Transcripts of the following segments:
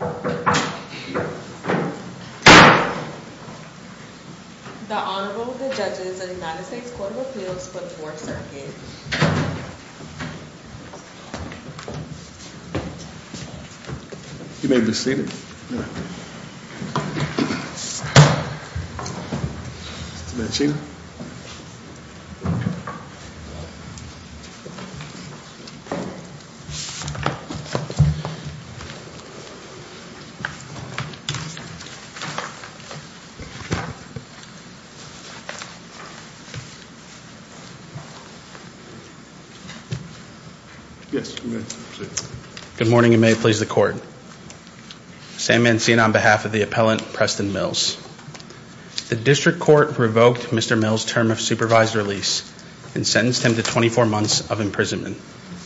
The Honorable, the Judges of the United States Court of Appeals for the Fourth Circuit. You may be seated. Mr. Bensheer. Yes, you may be seated. Good morning, and may it please the Court. Sam Mancina on behalf of the appellant, Preston Mills. The district court revoked Mr. Mills' term of supervised release and sentenced him to 24 months of imprisonment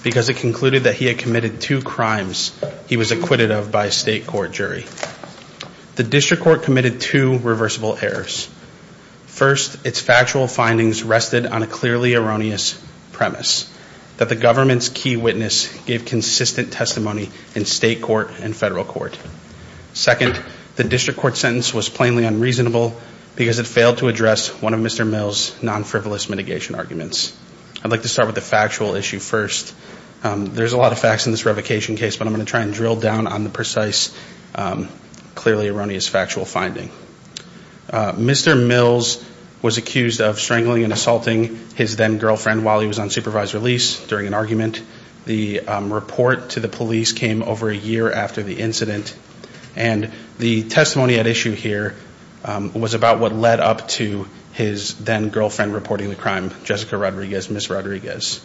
because it concluded that he had committed two crimes he was acquitted of by a state court jury. The district court committed two reversible errors. First, its factual findings rested on a clearly erroneous premise, that the government's key witness gave consistent testimony in state court and federal court. Second, the district court sentence was plainly unreasonable because it failed to address one of Mr. Mills' non-frivolous mitigation arguments. I'd like to start with the factual issue first. There's a lot of facts in this revocation case, but I'm going to try and drill down on the precise, clearly erroneous factual finding. Mr. Mills was accused of strangling and assaulting his then-girlfriend while he was on supervised release during an argument. The report to the police came over a year after the incident, and the testimony at issue here was about what led up to his then-girlfriend reporting the crime, Jessica Rodriguez, Ms. Rodriguez.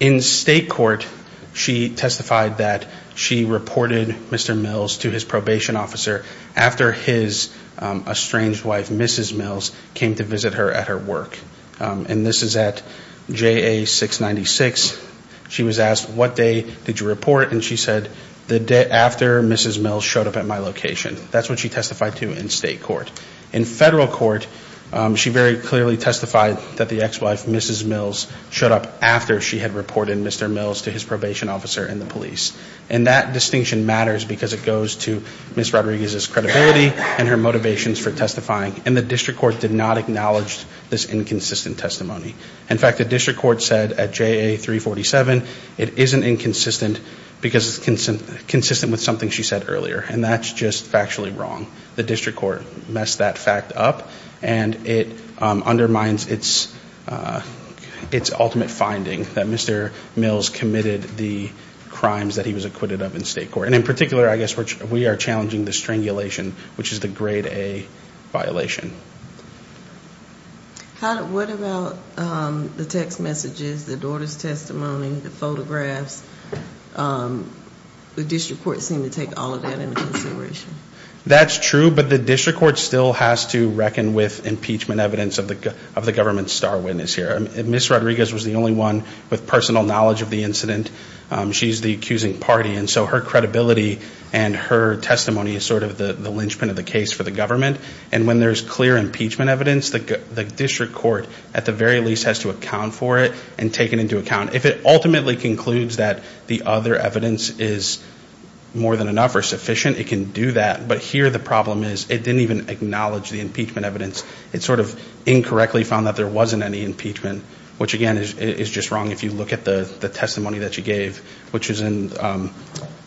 In state court, she testified that she reported Mr. Mills to his probation officer after his estranged wife, Mrs. Mills, came to visit her at her work. And this is at JA 696. She was asked, what day did you report? And she said, the day after Mrs. Mills showed up at my location. That's what she testified to in state court. In federal court, she very clearly testified that the ex-wife, Mrs. Mills, showed up after she had reported Mr. Mills to his probation officer and the police. And that distinction matters because it goes to Ms. Rodriguez's credibility and her motivations for testifying, and the district court did not acknowledge this inconsistent testimony. In fact, the district court said at JA 347 it isn't inconsistent because it's consistent with something she said earlier, and that's just factually wrong. The district court messed that fact up, and it undermines its ultimate finding that Mr. Mills committed the crimes that he was acquitted of in state court. And in particular, I guess, we are challenging the strangulation, which is the grade A violation. What about the text messages, the daughter's testimony, the photographs? The district court seemed to take all of that into consideration. That's true, but the district court still has to reckon with impeachment evidence of the government's star witness here. Ms. Rodriguez was the only one with personal knowledge of the incident. She's the accusing party, and so her credibility and her testimony is sort of the linchpin of the case for the government. And when there's clear impeachment evidence, the district court at the very least has to account for it and take it into account. If it ultimately concludes that the other evidence is more than enough or sufficient, it can do that. But here the problem is it didn't even acknowledge the impeachment evidence. It sort of incorrectly found that there wasn't any impeachment, which, again, is just wrong if you look at the testimony that she gave, which is in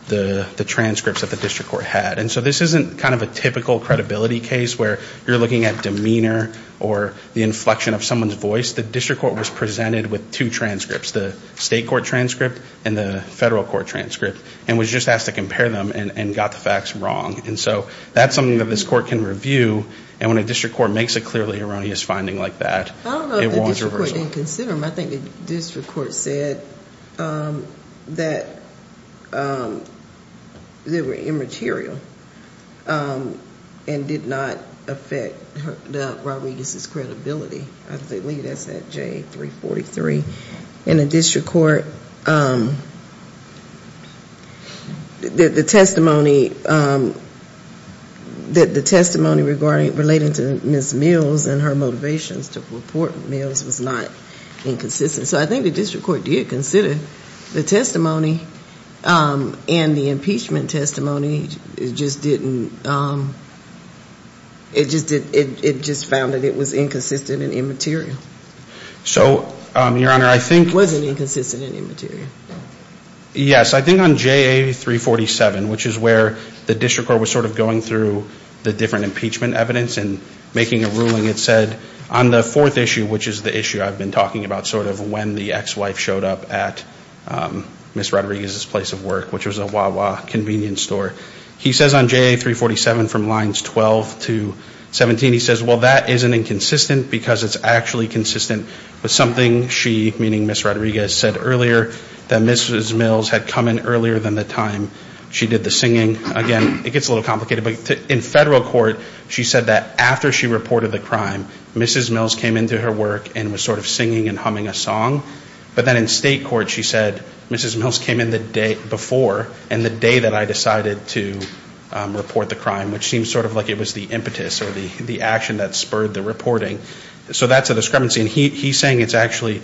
the transcripts that the district court had. And so this isn't kind of a typical credibility case where you're looking at demeanor or the inflection of someone's voice. The district court was presented with two transcripts, the state court transcript and the federal court transcript, and was just asked to compare them and got the facts wrong. And so that's something that this court can review. And when a district court makes a clearly erroneous finding like that, it warrants reversal. I don't know if the district court didn't consider them. I think the district court said that they were immaterial and did not affect Rodriguez's credibility. I believe that's at J343. And the district court, the testimony relating to Ms. Mills and her motivations to report Mills was not inconsistent. So I think the district court did consider the testimony and the impeachment testimony. It just found that it was inconsistent and immaterial. So, Your Honor, I think- It wasn't inconsistent and immaterial. Yes. I think on JA347, which is where the district court was sort of going through the different impeachment evidence and making a ruling, it said on the fourth issue, which is the issue I've been talking about, sort of when the ex-wife showed up at Ms. Rodriguez's place of work, which was a Wawa convenience store. He says on JA347 from lines 12 to 17, he says, well, that isn't inconsistent because it's actually consistent with something she, meaning Ms. Rodriguez, said earlier, that Ms. Mills had come in earlier than the time she did the singing. Again, it gets a little complicated. But in federal court, she said that after she reported the crime, Ms. Mills came into her work and was sort of singing and humming a song. But then in state court, she said, Ms. Mills came in the day before and the day that I decided to report the crime, which seems sort of like it was the impetus or the action that spurred the reporting. So that's a discrepancy. And he's saying it's actually,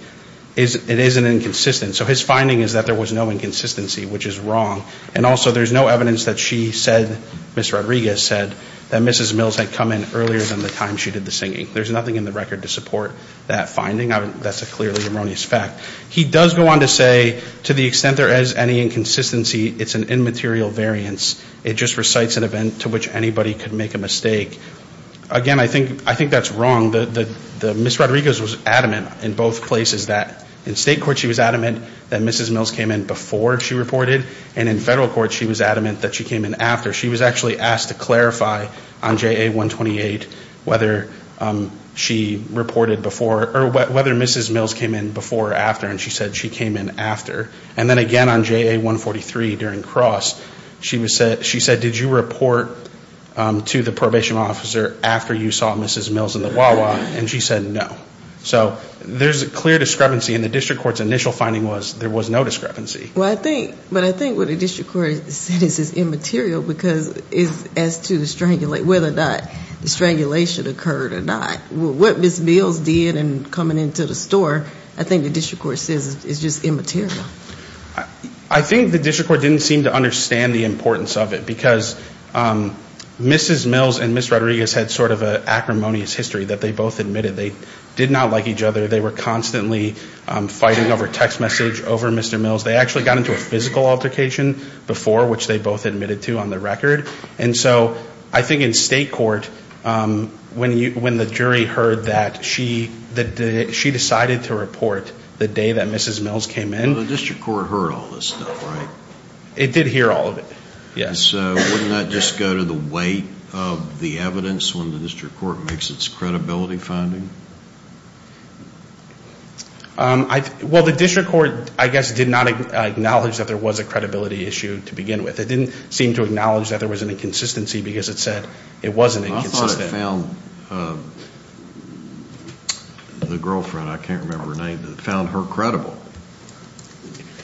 it isn't inconsistent. So his finding is that there was no inconsistency, which is wrong. And also, there's no evidence that she said, Ms. Rodriguez said, that Ms. Mills had come in earlier than the time she did the singing. There's nothing in the record to support that finding. That's a clearly erroneous fact. He does go on to say, to the extent there is any inconsistency, it's an immaterial variance. It just recites an event to which anybody could make a mistake. Again, I think that's wrong. Ms. Rodriguez was adamant in both places. In state court, she was adamant that Ms. Mills came in before she reported. And in federal court, she was adamant that she came in after. She was actually asked to clarify on JA-128 whether she reported before, or whether Ms. Mills came in before or after. And she said she came in after. And then again on JA-143 during Cross, she said, did you report to the probation officer after you saw Ms. Mills in the Wawa? And she said no. So there's a clear discrepancy. And the district court's initial finding was there was no discrepancy. But I think what the district court says is immaterial because as to whether or not the strangulation occurred or not. What Ms. Mills did in coming into the store, I think the district court says is just immaterial. I think the district court didn't seem to understand the importance of it because Mrs. Mills and Ms. Rodriguez had sort of an acrimonious history that they both admitted. They did not like each other. They were constantly fighting over text message, over Mr. Mills. They actually got into a physical altercation before, which they both admitted to on the record. And so I think in state court, when the jury heard that she decided to report the day that Mrs. Mills came in. The district court heard all this stuff, right? It did hear all of it, yes. So wouldn't that just go to the weight of the evidence when the district court makes its credibility finding? Well, the district court, I guess, did not acknowledge that there was a credibility issue to begin with. It didn't seem to acknowledge that there was an inconsistency because it said it wasn't inconsistent. I thought it found the girlfriend, I can't remember her name, found her credible.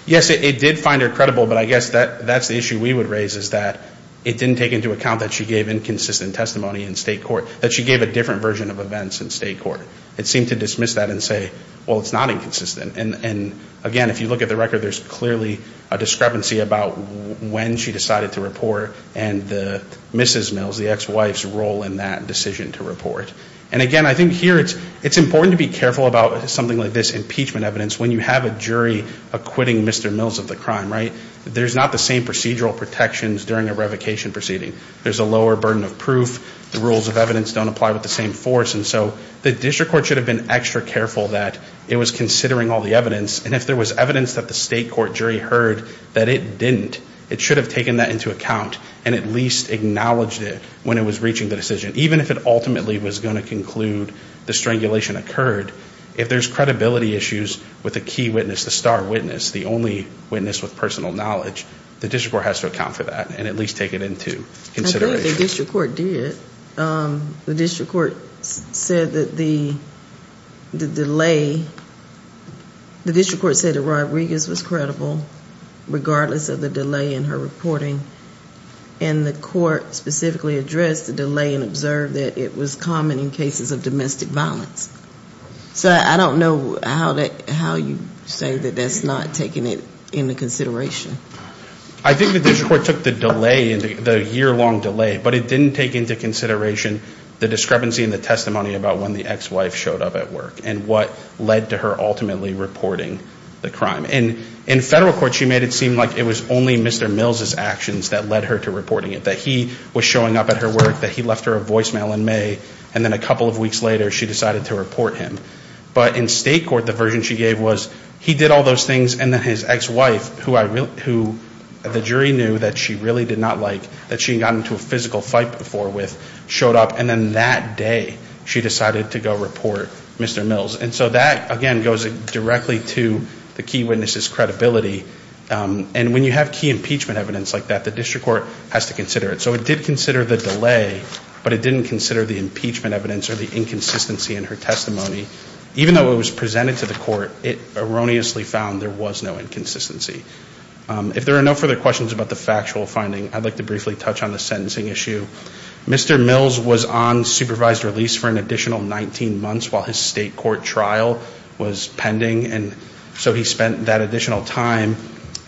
Yes, it did find her credible. But I guess that's the issue we would raise is that it didn't take into account that she gave inconsistent testimony in state court. That she gave a different version of events in state court. It seemed to dismiss that and say, well, it's not inconsistent. And again, if you look at the record, there's clearly a discrepancy about when she decided to report. And Mrs. Mills, the ex-wife's role in that decision to report. And again, I think here it's important to be careful about something like this impeachment evidence. When you have a jury acquitting Mr. Mills of the crime, right? There's not the same procedural protections during a revocation proceeding. There's a lower burden of proof. The rules of evidence don't apply with the same force. And so the district court should have been extra careful that it was considering all the evidence. And if there was evidence that the state court jury heard that it didn't, it should have taken that into account. And at least acknowledged it when it was reaching the decision. Even if it ultimately was going to conclude the strangulation occurred. If there's credibility issues with a key witness, the star witness, the only witness with personal knowledge. The district court has to account for that. And at least take it into consideration. I think the district court did. The district court said that the delay, the district court said that Roy Regas was credible. Regardless of the delay in her reporting. And the court specifically addressed the delay and observed that it was common in cases of domestic violence. So I don't know how you say that that's not taking it into consideration. I think the district court took the delay, the year-long delay. But it didn't take into consideration the discrepancy in the testimony about when the ex-wife showed up at work. And what led to her ultimately reporting the crime. And in federal court she made it seem like it was only Mr. Mills' actions that led her to reporting it. That he was showing up at her work. That he left her a voicemail in May. And then a couple of weeks later she decided to report him. But in state court the version she gave was he did all those things. And then his ex-wife, who the jury knew that she really did not like. That she had gotten into a physical fight before with, showed up. And then that day she decided to go report Mr. Mills. And so that, again, goes directly to the key witness's credibility. And when you have key impeachment evidence like that, the district court has to consider it. So it did consider the delay. But it didn't consider the impeachment evidence or the inconsistency in her testimony. Even though it was presented to the court, it erroneously found there was no inconsistency. If there are no further questions about the factual finding, I'd like to briefly touch on the sentencing issue. Mr. Mills was on supervised release for an additional 19 months while his state court trial was pending. And so he spent that additional time.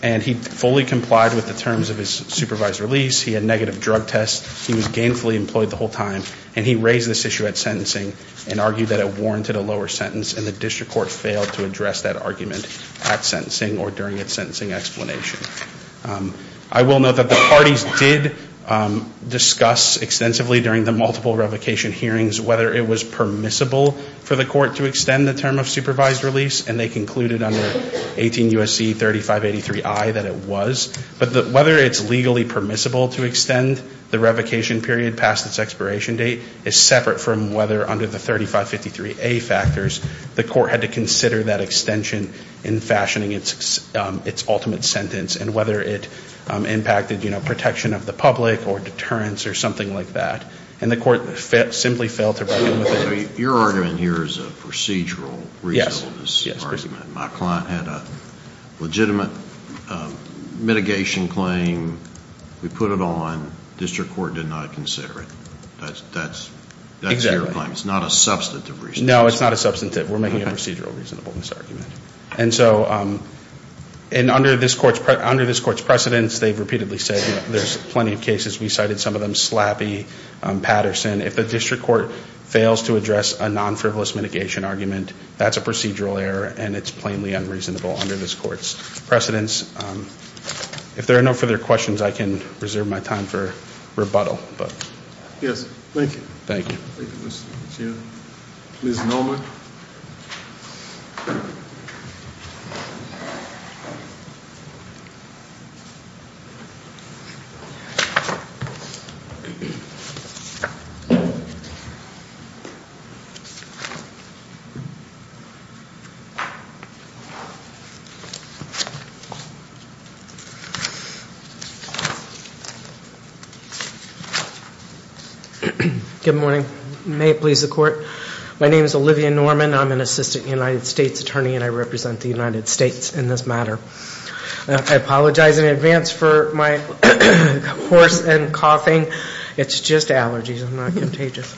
And he fully complied with the terms of his supervised release. He had negative drug tests. He was gainfully employed the whole time. And he raised this issue at sentencing and argued that it warranted a lower sentence. And the district court failed to address that argument at sentencing or during its sentencing explanation. I will note that the parties did discuss extensively during the multiple revocation hearings whether it was permissible for the court to extend the term of supervised release. And they concluded under 18 U.S.C. 3583I that it was. But whether it's legally permissible to extend the revocation period past its expiration date is separate from whether under the 3553A factors the court had to consider that extension in fashioning its ultimate sentence and whether it impacted, you know, protection of the public or deterrence or something like that. And the court simply failed to bring it up. So your argument here is a procedural result of this argument. My client had a legitimate mitigation claim. We put it on. District court did not consider it. That's your claim. It's not a substantive reason. No, it's not a substantive. We're making a procedural reason for this argument. And so under this court's precedence, they've repeatedly said there's plenty of cases. We cited some of them. Slappy, Patterson. If the district court fails to address a non-frivolous mitigation argument, that's a procedural error. And it's plainly unreasonable under this court's precedence. If there are no further questions, I can reserve my time for rebuttal. Yes, thank you. Thank you. Thank you, Mr. McKeon. Ms. Nolan. Good morning. May it please the court. My name is Olivia Norman. I'm an assistant United States attorney, and I represent the United States in this matter. I apologize in advance for my hoarse and coughing. It's just allergies. I'm not contagious.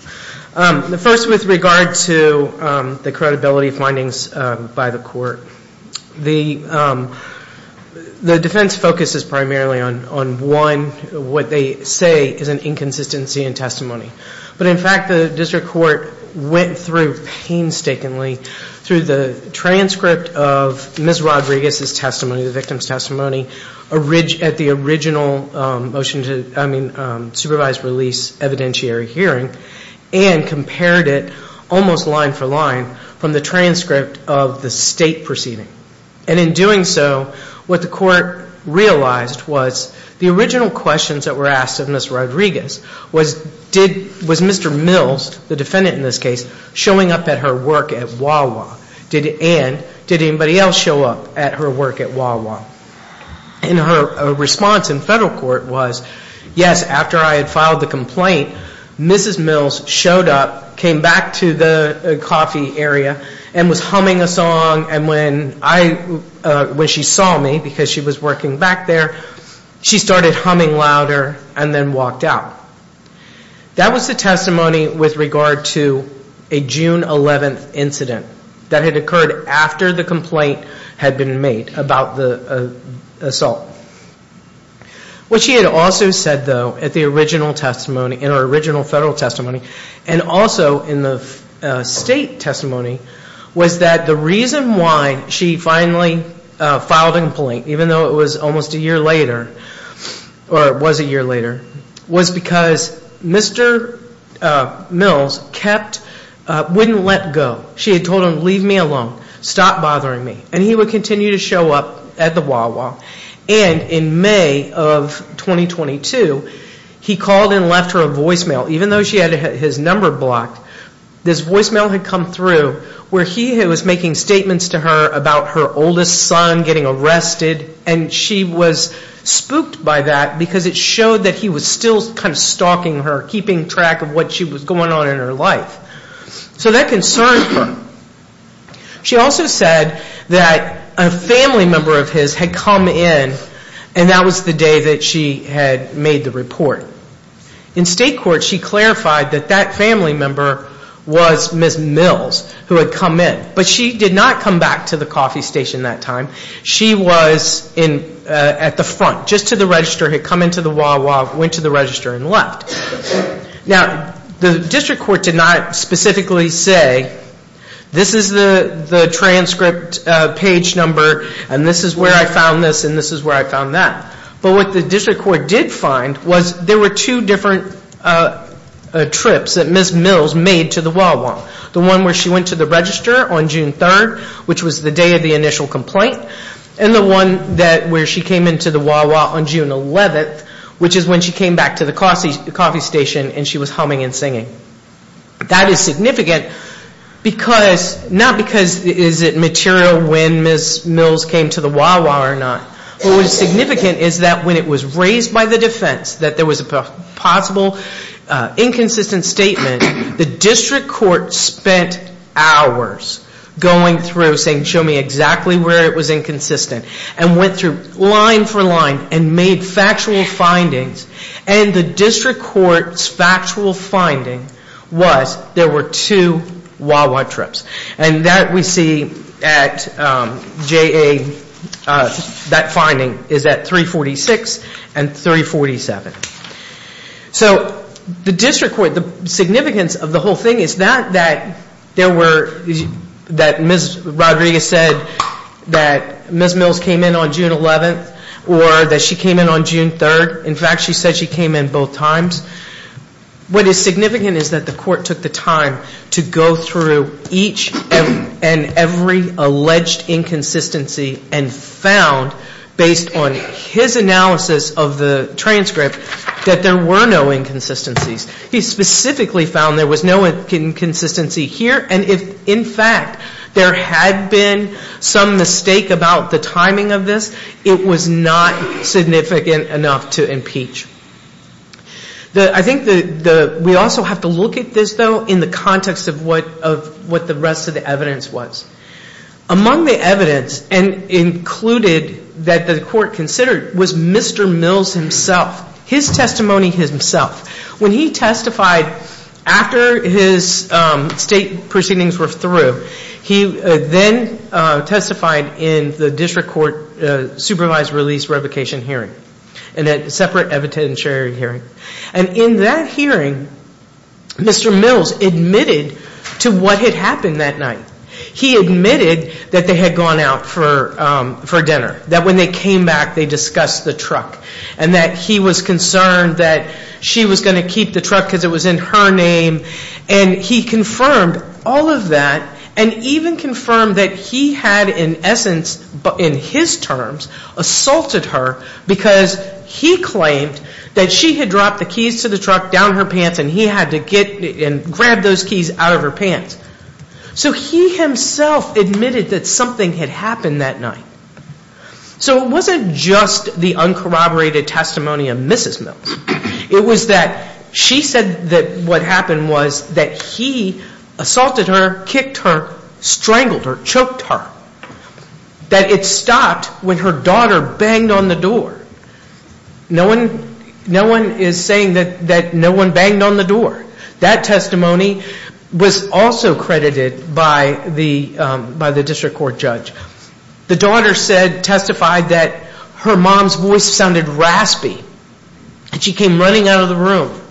First, with regard to the credibility findings by the court, the defense focuses primarily on, one, what they say is an inconsistency in testimony. But, in fact, the district court went through painstakingly through the transcript of Ms. Rodriguez's testimony, the victim's testimony, at the original supervised release evidentiary hearing and compared it almost line for line from the transcript of the state proceeding. And in doing so, what the court realized was the original questions that were asked of Ms. Rodriguez was, was Mr. Mills, the defendant in this case, showing up at her work at Wawa? And did anybody else show up at her work at Wawa? And her response in federal court was, yes, after I had filed the complaint, Mrs. Mills showed up, came back to the coffee area, and was humming a song. And when I, when she saw me, because she was working back there, she started humming louder and then walked out. That was the testimony with regard to a June 11th incident that had occurred after the complaint had been made about the assault. What she had also said, though, at the original testimony, in her original federal testimony, and also in the state testimony, was that the reason why she finally filed a complaint, even though it was almost a year later, or it was a year later, was because Mr. Mills kept, wouldn't let go. She had told him, leave me alone. Stop bothering me. And he would continue to show up at the Wawa. And in May of 2022, he called and left her a voicemail. Even though she had his number blocked, this voicemail had come through where he was making statements to her about her oldest son getting arrested. And she was spooked by that because it showed that he was still kind of stalking her, keeping track of what was going on in her life. So that concerned her. She also said that a family member of his had come in, and that was the day that she had made the report. In state court, she clarified that that family member was Ms. Mills, who had come in. But she did not come back to the coffee station that time. She was at the front, just to the register, had come into the Wawa, went to the register, and left. Now, the district court did not specifically say, this is the transcript page number, and this is where I found this, and this is where I found that. But what the district court did find was there were two different trips that Ms. Mills made to the Wawa. The one where she went to the register on June 3rd, which was the day of the initial complaint. And the one where she came into the Wawa on June 11th, which is when she came back to the coffee station and she was humming and singing. That is significant, not because is it material when Ms. Mills came to the Wawa or not. What was significant is that when it was raised by the defense that there was a possible inconsistent statement, the district court spent hours going through saying, show me exactly where it was inconsistent. And went through line for line and made factual findings. And the district court's factual finding was there were two Wawa trips. And that we see at JA, that finding is at 346 and 347. So the district court, the significance of the whole thing is not that there were, that Ms. Rodriguez said that Ms. Mills came in on June 11th or that she came in on June 3rd. In fact, she said she came in both times. What is significant is that the court took the time to go through each and every alleged inconsistency and found, based on his analysis of the transcript, that there were no inconsistencies. He specifically found there was no inconsistency here. And if, in fact, there had been some mistake about the timing of this, it was not significant enough to impeach. I think we also have to look at this, though, in the context of what the rest of the evidence was. Among the evidence included that the court considered was Mr. Mills himself, his testimony himself. When he testified after his state proceedings were through, he then testified in the district court supervised release revocation hearing, in that separate evidentiary hearing. And in that hearing, Mr. Mills admitted to what had happened that night. He admitted that they had gone out for dinner, that when they came back, they discussed the truck, and that he was concerned that she was going to keep the truck because it was in her name. And he confirmed all of that and even confirmed that he had, in essence, in his terms, assaulted her because he claimed that she had dropped the keys to the truck down her pants and he had to get and grab those keys out of her pants. So he himself admitted that something had happened that night. So it wasn't just the uncorroborated testimony of Mrs. Mills. It was that she said that what happened was that he assaulted her, kicked her, strangled her, choked her. That it stopped when her daughter banged on the door. No one is saying that no one banged on the door. That testimony was also credited by the district court judge. The daughter testified that her mom's voice sounded raspy and she came running out of the room.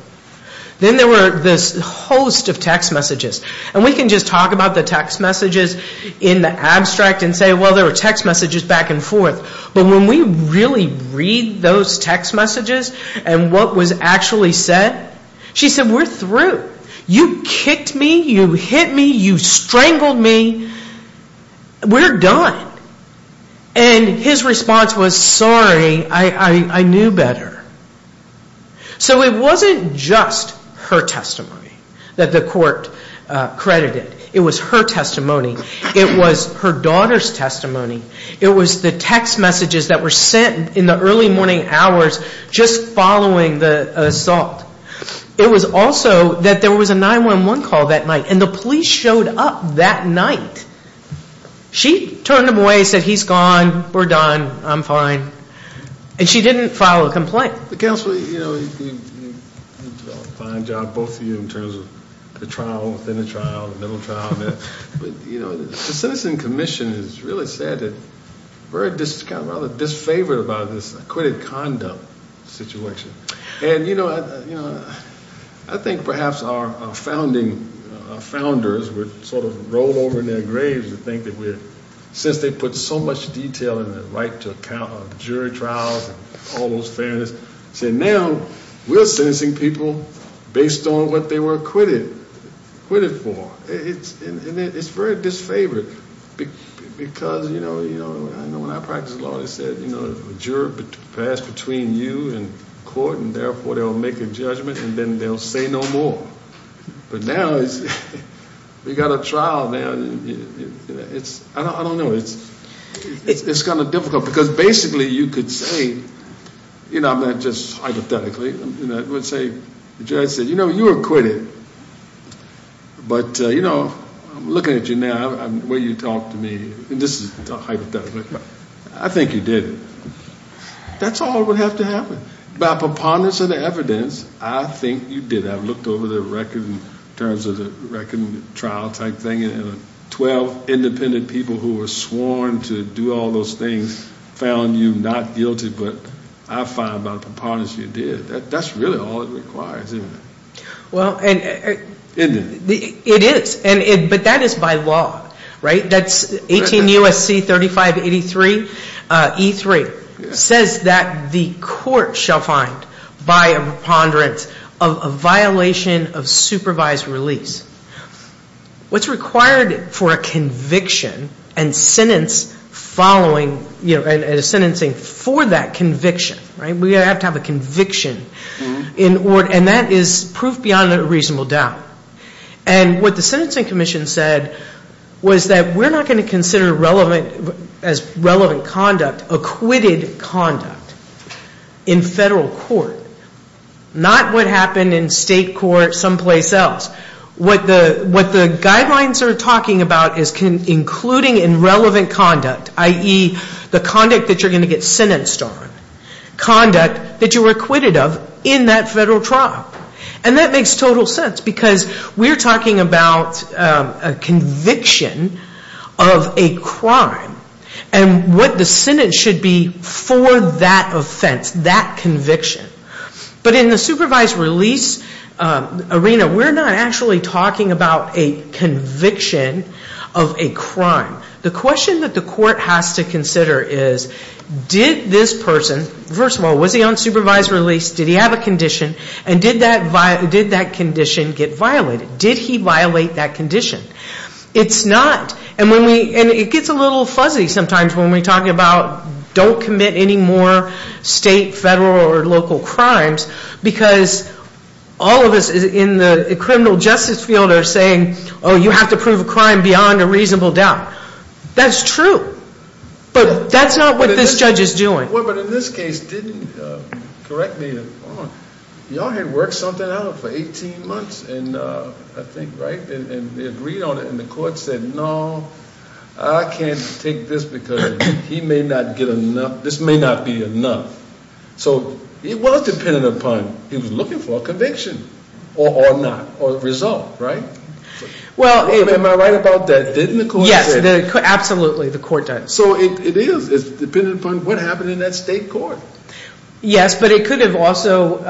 Then there were this host of text messages. And we can just talk about the text messages in the abstract and say, well, there were text messages back and forth. But when we really read those text messages and what was actually said, she said, we're through. You kicked me. You hit me. You strangled me. We're done. And his response was, sorry, I knew better. So it wasn't just her testimony that the court credited. It was her testimony. It was her daughter's testimony. It was the text messages that were sent in the early morning hours just following the assault. It was also that there was a 911 call that night. And the police showed up that night. She turned him away and said, he's gone. We're done. I'm fine. And she didn't file a complaint. The counsel, you know, you did a fine job, both of you, in terms of the trial within the trial, the middle trial. But, you know, the Citizen Commission has really said that we're just kind of rather disfavored about this acquitted conduct situation. And, you know, I think perhaps our founding founders would sort of roll over in their graves and think that we're, since they put so much detail in the right to account of jury trials and all those fairness, said now we're sentencing people based on what they were acquitted for. And it's very disfavored because, you know, I know when I practiced law, they said, you know, a juror passed between you and the court, and therefore they'll make a judgment, and then they'll say no more. But now we've got a trial. I don't know. It's kind of difficult because basically you could say, you know, I'm not just hypothetically, I would say the judge said, you know, you were acquitted. But, you know, looking at you now, the way you talk to me, and this is hypothetically, I think you did. That's all that would have to happen. By preponderance of the evidence, I think you did. I've looked over the record in terms of the record and trial type thing, and 12 independent people who were sworn to do all those things found you not guilty, but I find by preponderance you did. That's really all it requires, isn't it? Well, and it is. But that is by law, right? That's 18 U.S.C. 3583 E3. It says that the court shall find by a preponderance of a violation of supervised release. What's required for a conviction and sentencing for that conviction, right? We have to have a conviction, and that is proof beyond a reasonable doubt. And what the Sentencing Commission said was that we're not going to consider relevant conduct, acquitted conduct, in federal court. Not what happened in state court someplace else. What the guidelines are talking about is including in relevant conduct, i.e., the conduct that you're going to get sentenced on, conduct that you were acquitted of in that federal trial. And that makes total sense because we're talking about a conviction of a crime and what the sentence should be for that offense, that conviction. But in the supervised release arena, we're not actually talking about a conviction of a crime. The question that the court has to consider is, did this person, first of all, was he on supervised release? Did he have a condition? And did that condition get violated? Did he violate that condition? It's not. And it gets a little fuzzy sometimes when we talk about don't commit any more state, federal, or local crimes because all of us in the criminal justice field are saying, oh, you have to prove a crime beyond a reasonable doubt. That's true. But that's not what this judge is doing. But in this case, correct me if I'm wrong, y'all had worked something out for 18 months, I think, right? And they agreed on it, and the court said, no, I can't take this because he may not get enough. This may not be enough. So it was dependent upon if he was looking for a conviction or not, or a result, right? Well, am I right about that? Yes, absolutely, the court does. So it is. It's dependent upon what happened in that state court. Yes, but it could have also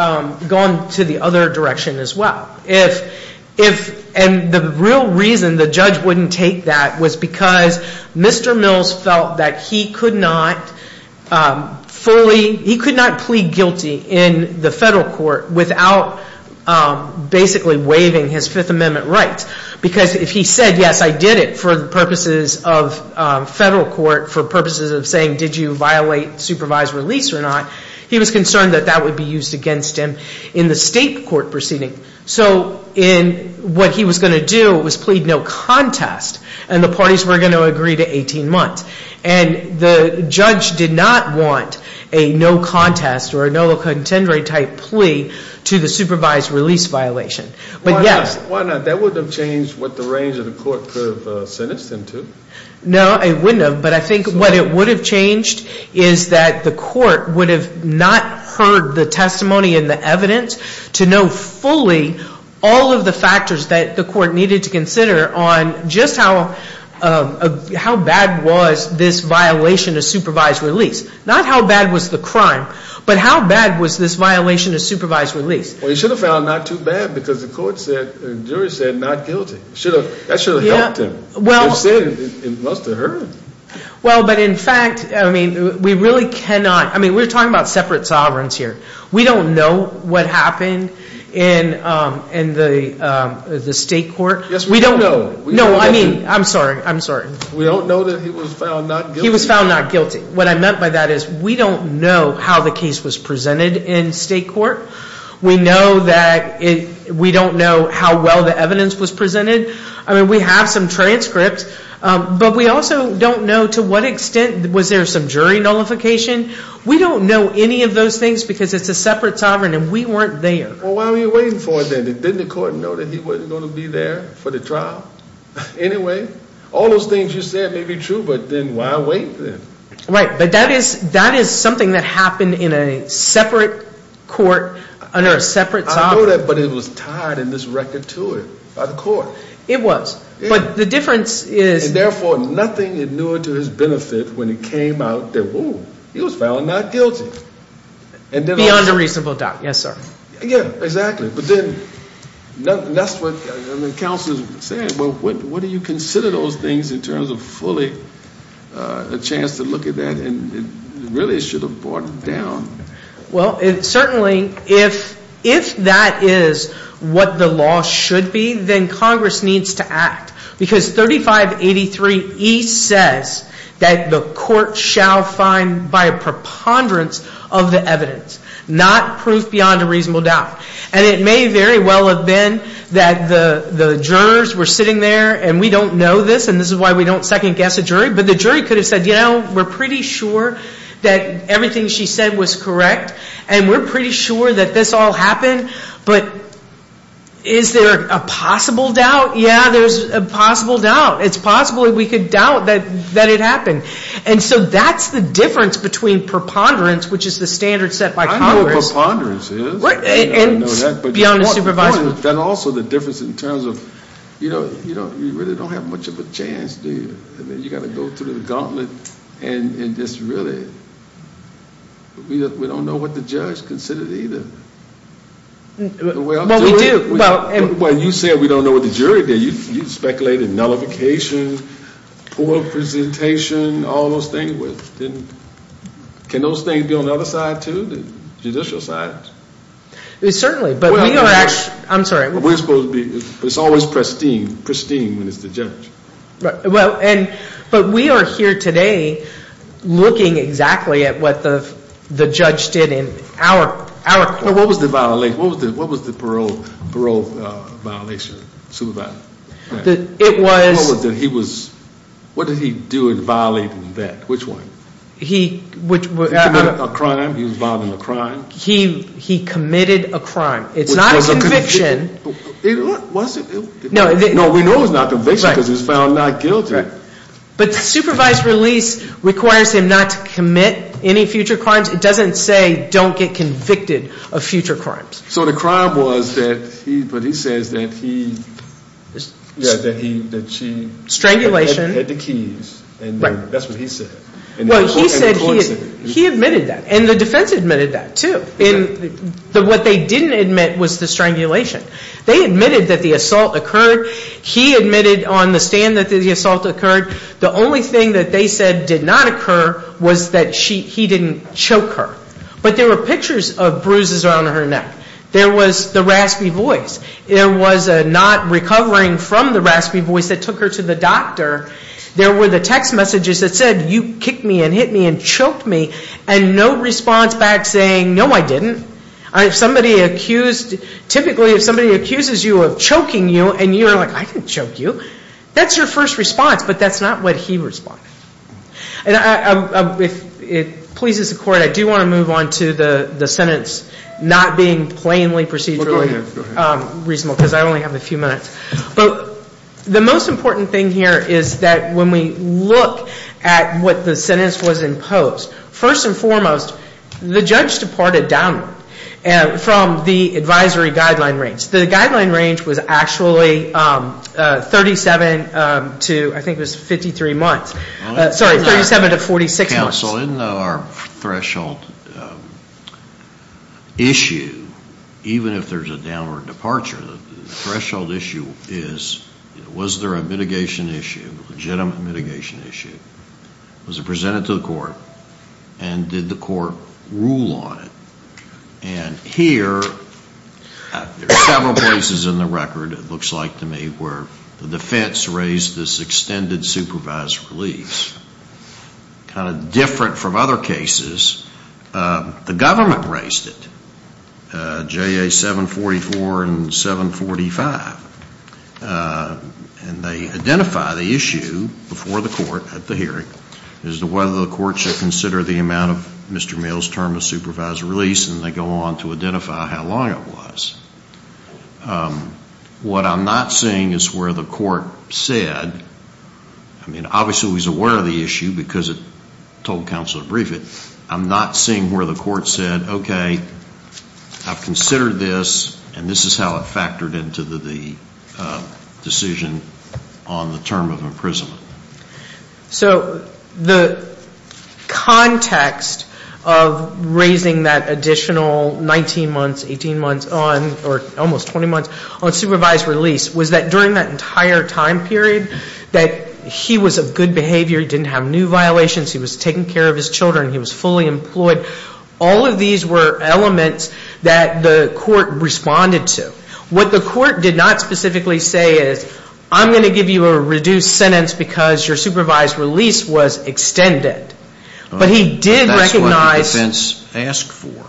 gone to the other direction as well. And the real reason the judge wouldn't take that was because Mr. Mills felt that he could not fully, he could not plead guilty in the federal court without basically waiving his Fifth Amendment rights. Because if he said, yes, I did it for the purposes of federal court, for purposes of saying, did you violate supervised release or not, he was concerned that that would be used against him in the state court proceeding. So what he was going to do was plead no contest, and the parties were going to agree to 18 months. And the judge did not want a no contest or a no contendere type plea to the supervised release violation. Why not? That wouldn't have changed what the range of the court could have sentenced him to. No, it wouldn't have. But I think what it would have changed is that the court would have not heard the testimony and the evidence to know fully all of the factors that the court needed to consider on just how bad was this violation of supervised release. Not how bad was the crime, but how bad was this violation of supervised release. Well, he should have found not too bad because the court said, the jury said, not guilty. That should have helped him. Instead, it must have hurt him. Well, but in fact, I mean, we really cannot. I mean, we're talking about separate sovereigns here. We don't know what happened in the state court. Yes, we don't know. No, I mean, I'm sorry. I'm sorry. We don't know that he was found not guilty. He was found not guilty. What I meant by that is we don't know how the case was presented in state court. We know that we don't know how well the evidence was presented. I mean, we have some transcripts, but we also don't know to what extent was there some jury nullification. We don't know any of those things because it's a separate sovereign and we weren't there. Well, why were you waiting for it then? Didn't the court know that he wasn't going to be there for the trial anyway? All those things you said may be true, but then why wait then? But that is something that happened in a separate court under a separate sovereign. I know that, but it was tied in this record to it by the court. It was. But the difference is... And, therefore, nothing is new to his benefit when it came out that, ooh, he was found not guilty. Beyond a reasonable doubt. Yes, sir. Yeah, exactly. But then that's what counsel said. What do you consider those things in terms of fully a chance to look at that and really should have brought it down? Well, certainly, if that is what the law should be, then Congress needs to act. Because 3583E says that the court shall find by a preponderance of the evidence. Not proof beyond a reasonable doubt. And it may very well have been that the jurors were sitting there and we don't know this. And this is why we don't second guess a jury. But the jury could have said, you know, we're pretty sure that everything she said was correct. And we're pretty sure that this all happened. But is there a possible doubt? Yeah, there's a possible doubt. It's possible we could doubt that it happened. And so that's the difference between preponderance, which is the standard set by Congress. I know what preponderance is. I know that. Beyond a supervisor. And also the difference in terms of, you know, you really don't have much of a chance, do you? I mean, you've got to go through the gauntlet and just really... We don't know what the judge considered either. Well, we do. Well, you said we don't know what the jury did. You speculated nullification, poor presentation, all those things. Can those things be on the other side too, the judicial side? Certainly. But we are actually... I'm sorry. We're supposed to be... It's always pristine when it's the judge. But we are here today looking exactly at what the judge did in our court. What was the violation? What was the parole violation, supervisor? It was... What did he do in violating that? Which one? He... He committed a crime? He was violating a crime? He committed a crime. It's not a conviction. Was it? No. No, we know it was not a conviction because it was found not guilty. But supervised release requires him not to commit any future crimes. It doesn't say don't get convicted of future crimes. So the crime was that he... But he says that he... That he... That she... Strangulation. Had the keys. Right. And that's what he said. Well, he admitted that. And the defense admitted that too. What they didn't admit was the strangulation. They admitted that the assault occurred. He admitted on the stand that the assault occurred. The only thing that they said did not occur was that he didn't choke her. But there were pictures of bruises around her neck. There was the raspy voice. There was a not recovering from the raspy voice that took her to the doctor. There were the text messages that said, you kicked me and hit me and choked me. And no response back saying, no, I didn't. If somebody accused... Typically if somebody accuses you of choking you and you're like, I didn't choke you. That's your first response. But that's not what he responded. If it pleases the court, I do want to move on to the sentence not being plainly procedurally reasonable. Because I only have a few minutes. But the most important thing here is that when we look at what the sentence was imposed... First and foremost, the judge departed downward from the advisory guideline range. The guideline range was actually 37 to, I think it was 53 months. Sorry, 37 to 46 months. Counsel, in our threshold issue, even if there's a downward departure... The threshold issue is, was there a mitigation issue, a legitimate mitigation issue? Was it presented to the court? And did the court rule on it? And here, there are several places in the record, it looks like to me... Where the defense raised this extended supervised release. Kind of different from other cases. The government raised it. JA 744 and 745. And they identify the issue before the court at the hearing. As to whether the court should consider the amount of Mr. Mills' term of supervised release. And they go on to identify how long it was. What I'm not seeing is where the court said... I mean, obviously, he's aware of the issue because it told counsel to brief it. I'm not seeing where the court said, okay, I've considered this. And this is how it factored into the decision on the term of imprisonment. So the context of raising that additional 19 months, 18 months on... Or almost 20 months on supervised release. Was that during that entire time period, that he was of good behavior. He didn't have new violations. He was taking care of his children. He was fully employed. All of these were elements that the court responded to. What the court did not specifically say is, I'm going to give you a reduced sentence because your supervised release was extended. But he did recognize... That's what the defense asked for.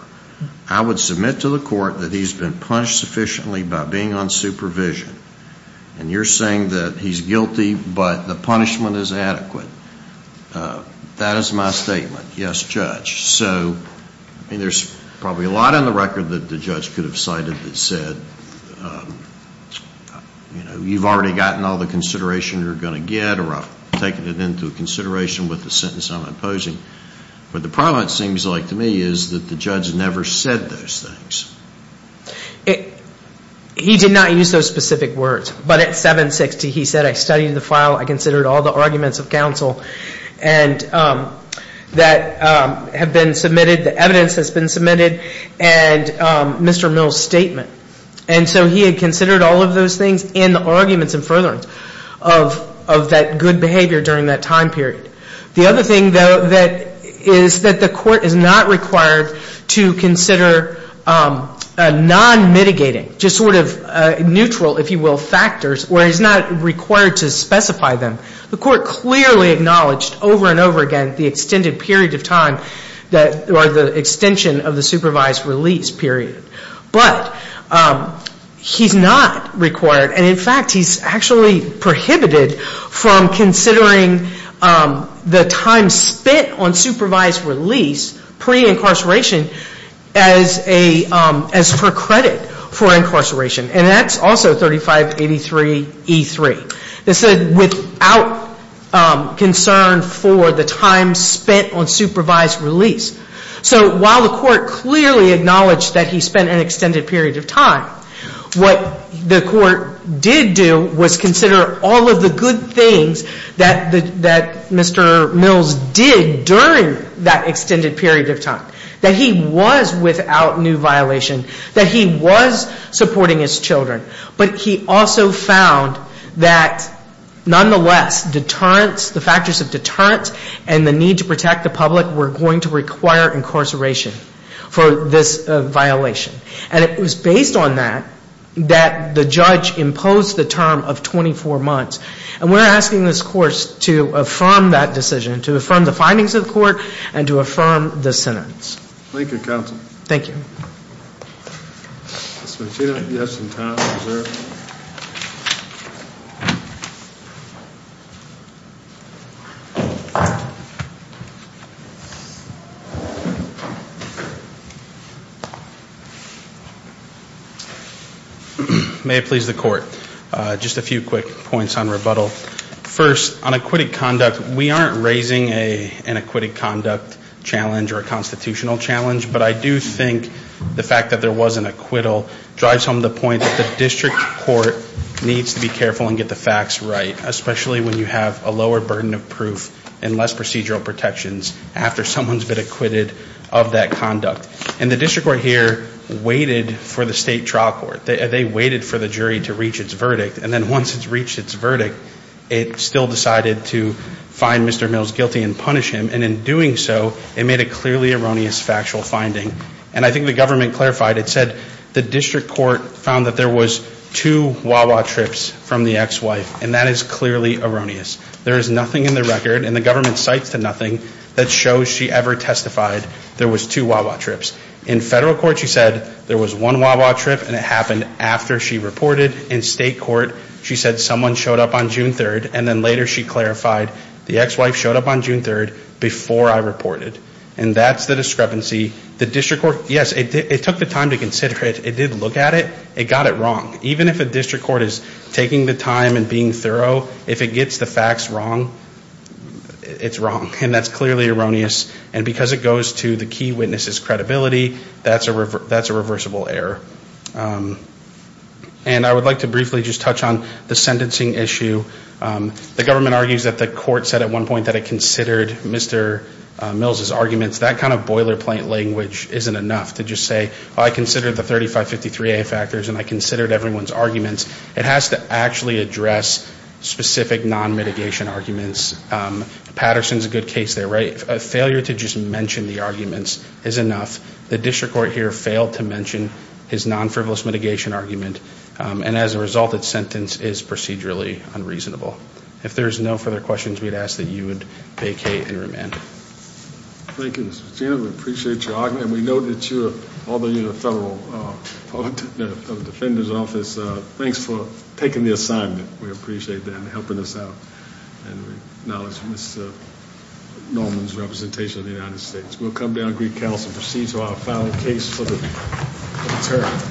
I would submit to the court that he's been punished sufficiently by being on supervision. And you're saying that he's guilty, but the punishment is adequate. That is my statement. Yes, Judge. So, I mean, there's probably a lot on the record that the judge could have cited that said... You know, you've already gotten all the consideration you're going to get. Or I've taken it into consideration with the sentence I'm imposing. But the problem, it seems like to me, is that the judge never said those things. He did not use those specific words. But at 760, he said, I studied the file. I considered all the arguments of counsel. And that have been submitted. The evidence has been submitted. And Mr. Mill's statement. And so he had considered all of those things. And the arguments and furtherance of that good behavior during that time period. The other thing, though, that is that the court is not required to consider non-mitigating. Just sort of neutral, if you will, factors. Or he's not required to specify them. The court clearly acknowledged over and over again the extended period of time... Or the extension of the supervised release period. But he's not required. And, in fact, he's actually prohibited from considering the time spent on supervised release pre-incarceration... As for credit for incarceration. And that's also 3583E3. This is without concern for the time spent on supervised release. So while the court clearly acknowledged that he spent an extended period of time... What the court did do was consider all of the good things that Mr. Mill's did during that extended period of time. That he was without new violation. That he was supporting his children. But he also found that, nonetheless, deterrence... The factors of deterrence and the need to protect the public were going to require incarceration for this violation. And it was based on that, that the judge imposed the term of 24 months. And we're asking this court to affirm that decision. To affirm the findings of the court. And to affirm the sentence. Thank you, counsel. Thank you. Mr. Machino, you have some time reserved. May it please the court. Just a few quick points on rebuttal. First, on acquitted conduct. We aren't raising an acquitted conduct challenge or a constitutional challenge. But I do think the fact that there was an acquittal... Drives home the point that the district court needs to be careful and get the facts right. Especially when you have a lower burden of proof. And less procedural protections. After someone's been acquitted of that conduct. And the district court here waited for the state trial court. They waited for the jury to reach its verdict. And then once it's reached its verdict... It still decided to find Mr. Mill's guilty and punish him. And in doing so, it made a clearly erroneous factual finding. And I think the government clarified. It said the district court found that there was two wah-wah trips from the ex-wife. And that is clearly erroneous. There is nothing in the record... And the government cites to nothing... That shows she ever testified there was two wah-wah trips. In federal court, she said there was one wah-wah trip. And it happened after she reported. In state court, she said someone showed up on June 3rd. And then later she clarified, the ex-wife showed up on June 3rd... Before I reported. And that's the discrepancy. The district court... Yes, it took the time to consider it. It did look at it. It got it wrong. Even if a district court is taking the time and being thorough... If it gets the facts wrong... It's wrong. And that's clearly erroneous. And because it goes to the key witness's credibility... That's a reversible error. And I would like to briefly just touch on the sentencing issue. The government argues that the court said at one point... That it considered Mr. Mills' arguments. That kind of boilerplate language isn't enough to just say... I considered the 3553A factors. And I considered everyone's arguments. It has to actually address specific non-mitigation arguments. Patterson's a good case there, right? A failure to just mention the arguments is enough. The district court here failed to mention his non-frivolous mitigation argument. And as a result, its sentence is procedurally unreasonable. If there's no further questions we'd ask... That you would vacate and remand. Thank you, Mr. McKenna. We appreciate your argument. And we know that you are... Although you're in the Federal Defender's Office... Thanks for taking the assignment. We appreciate them helping us out. And we acknowledge Ms. Norman's representation of the United States. We'll come down and greet counsel. Proceed so I'll file a case for the deterrent.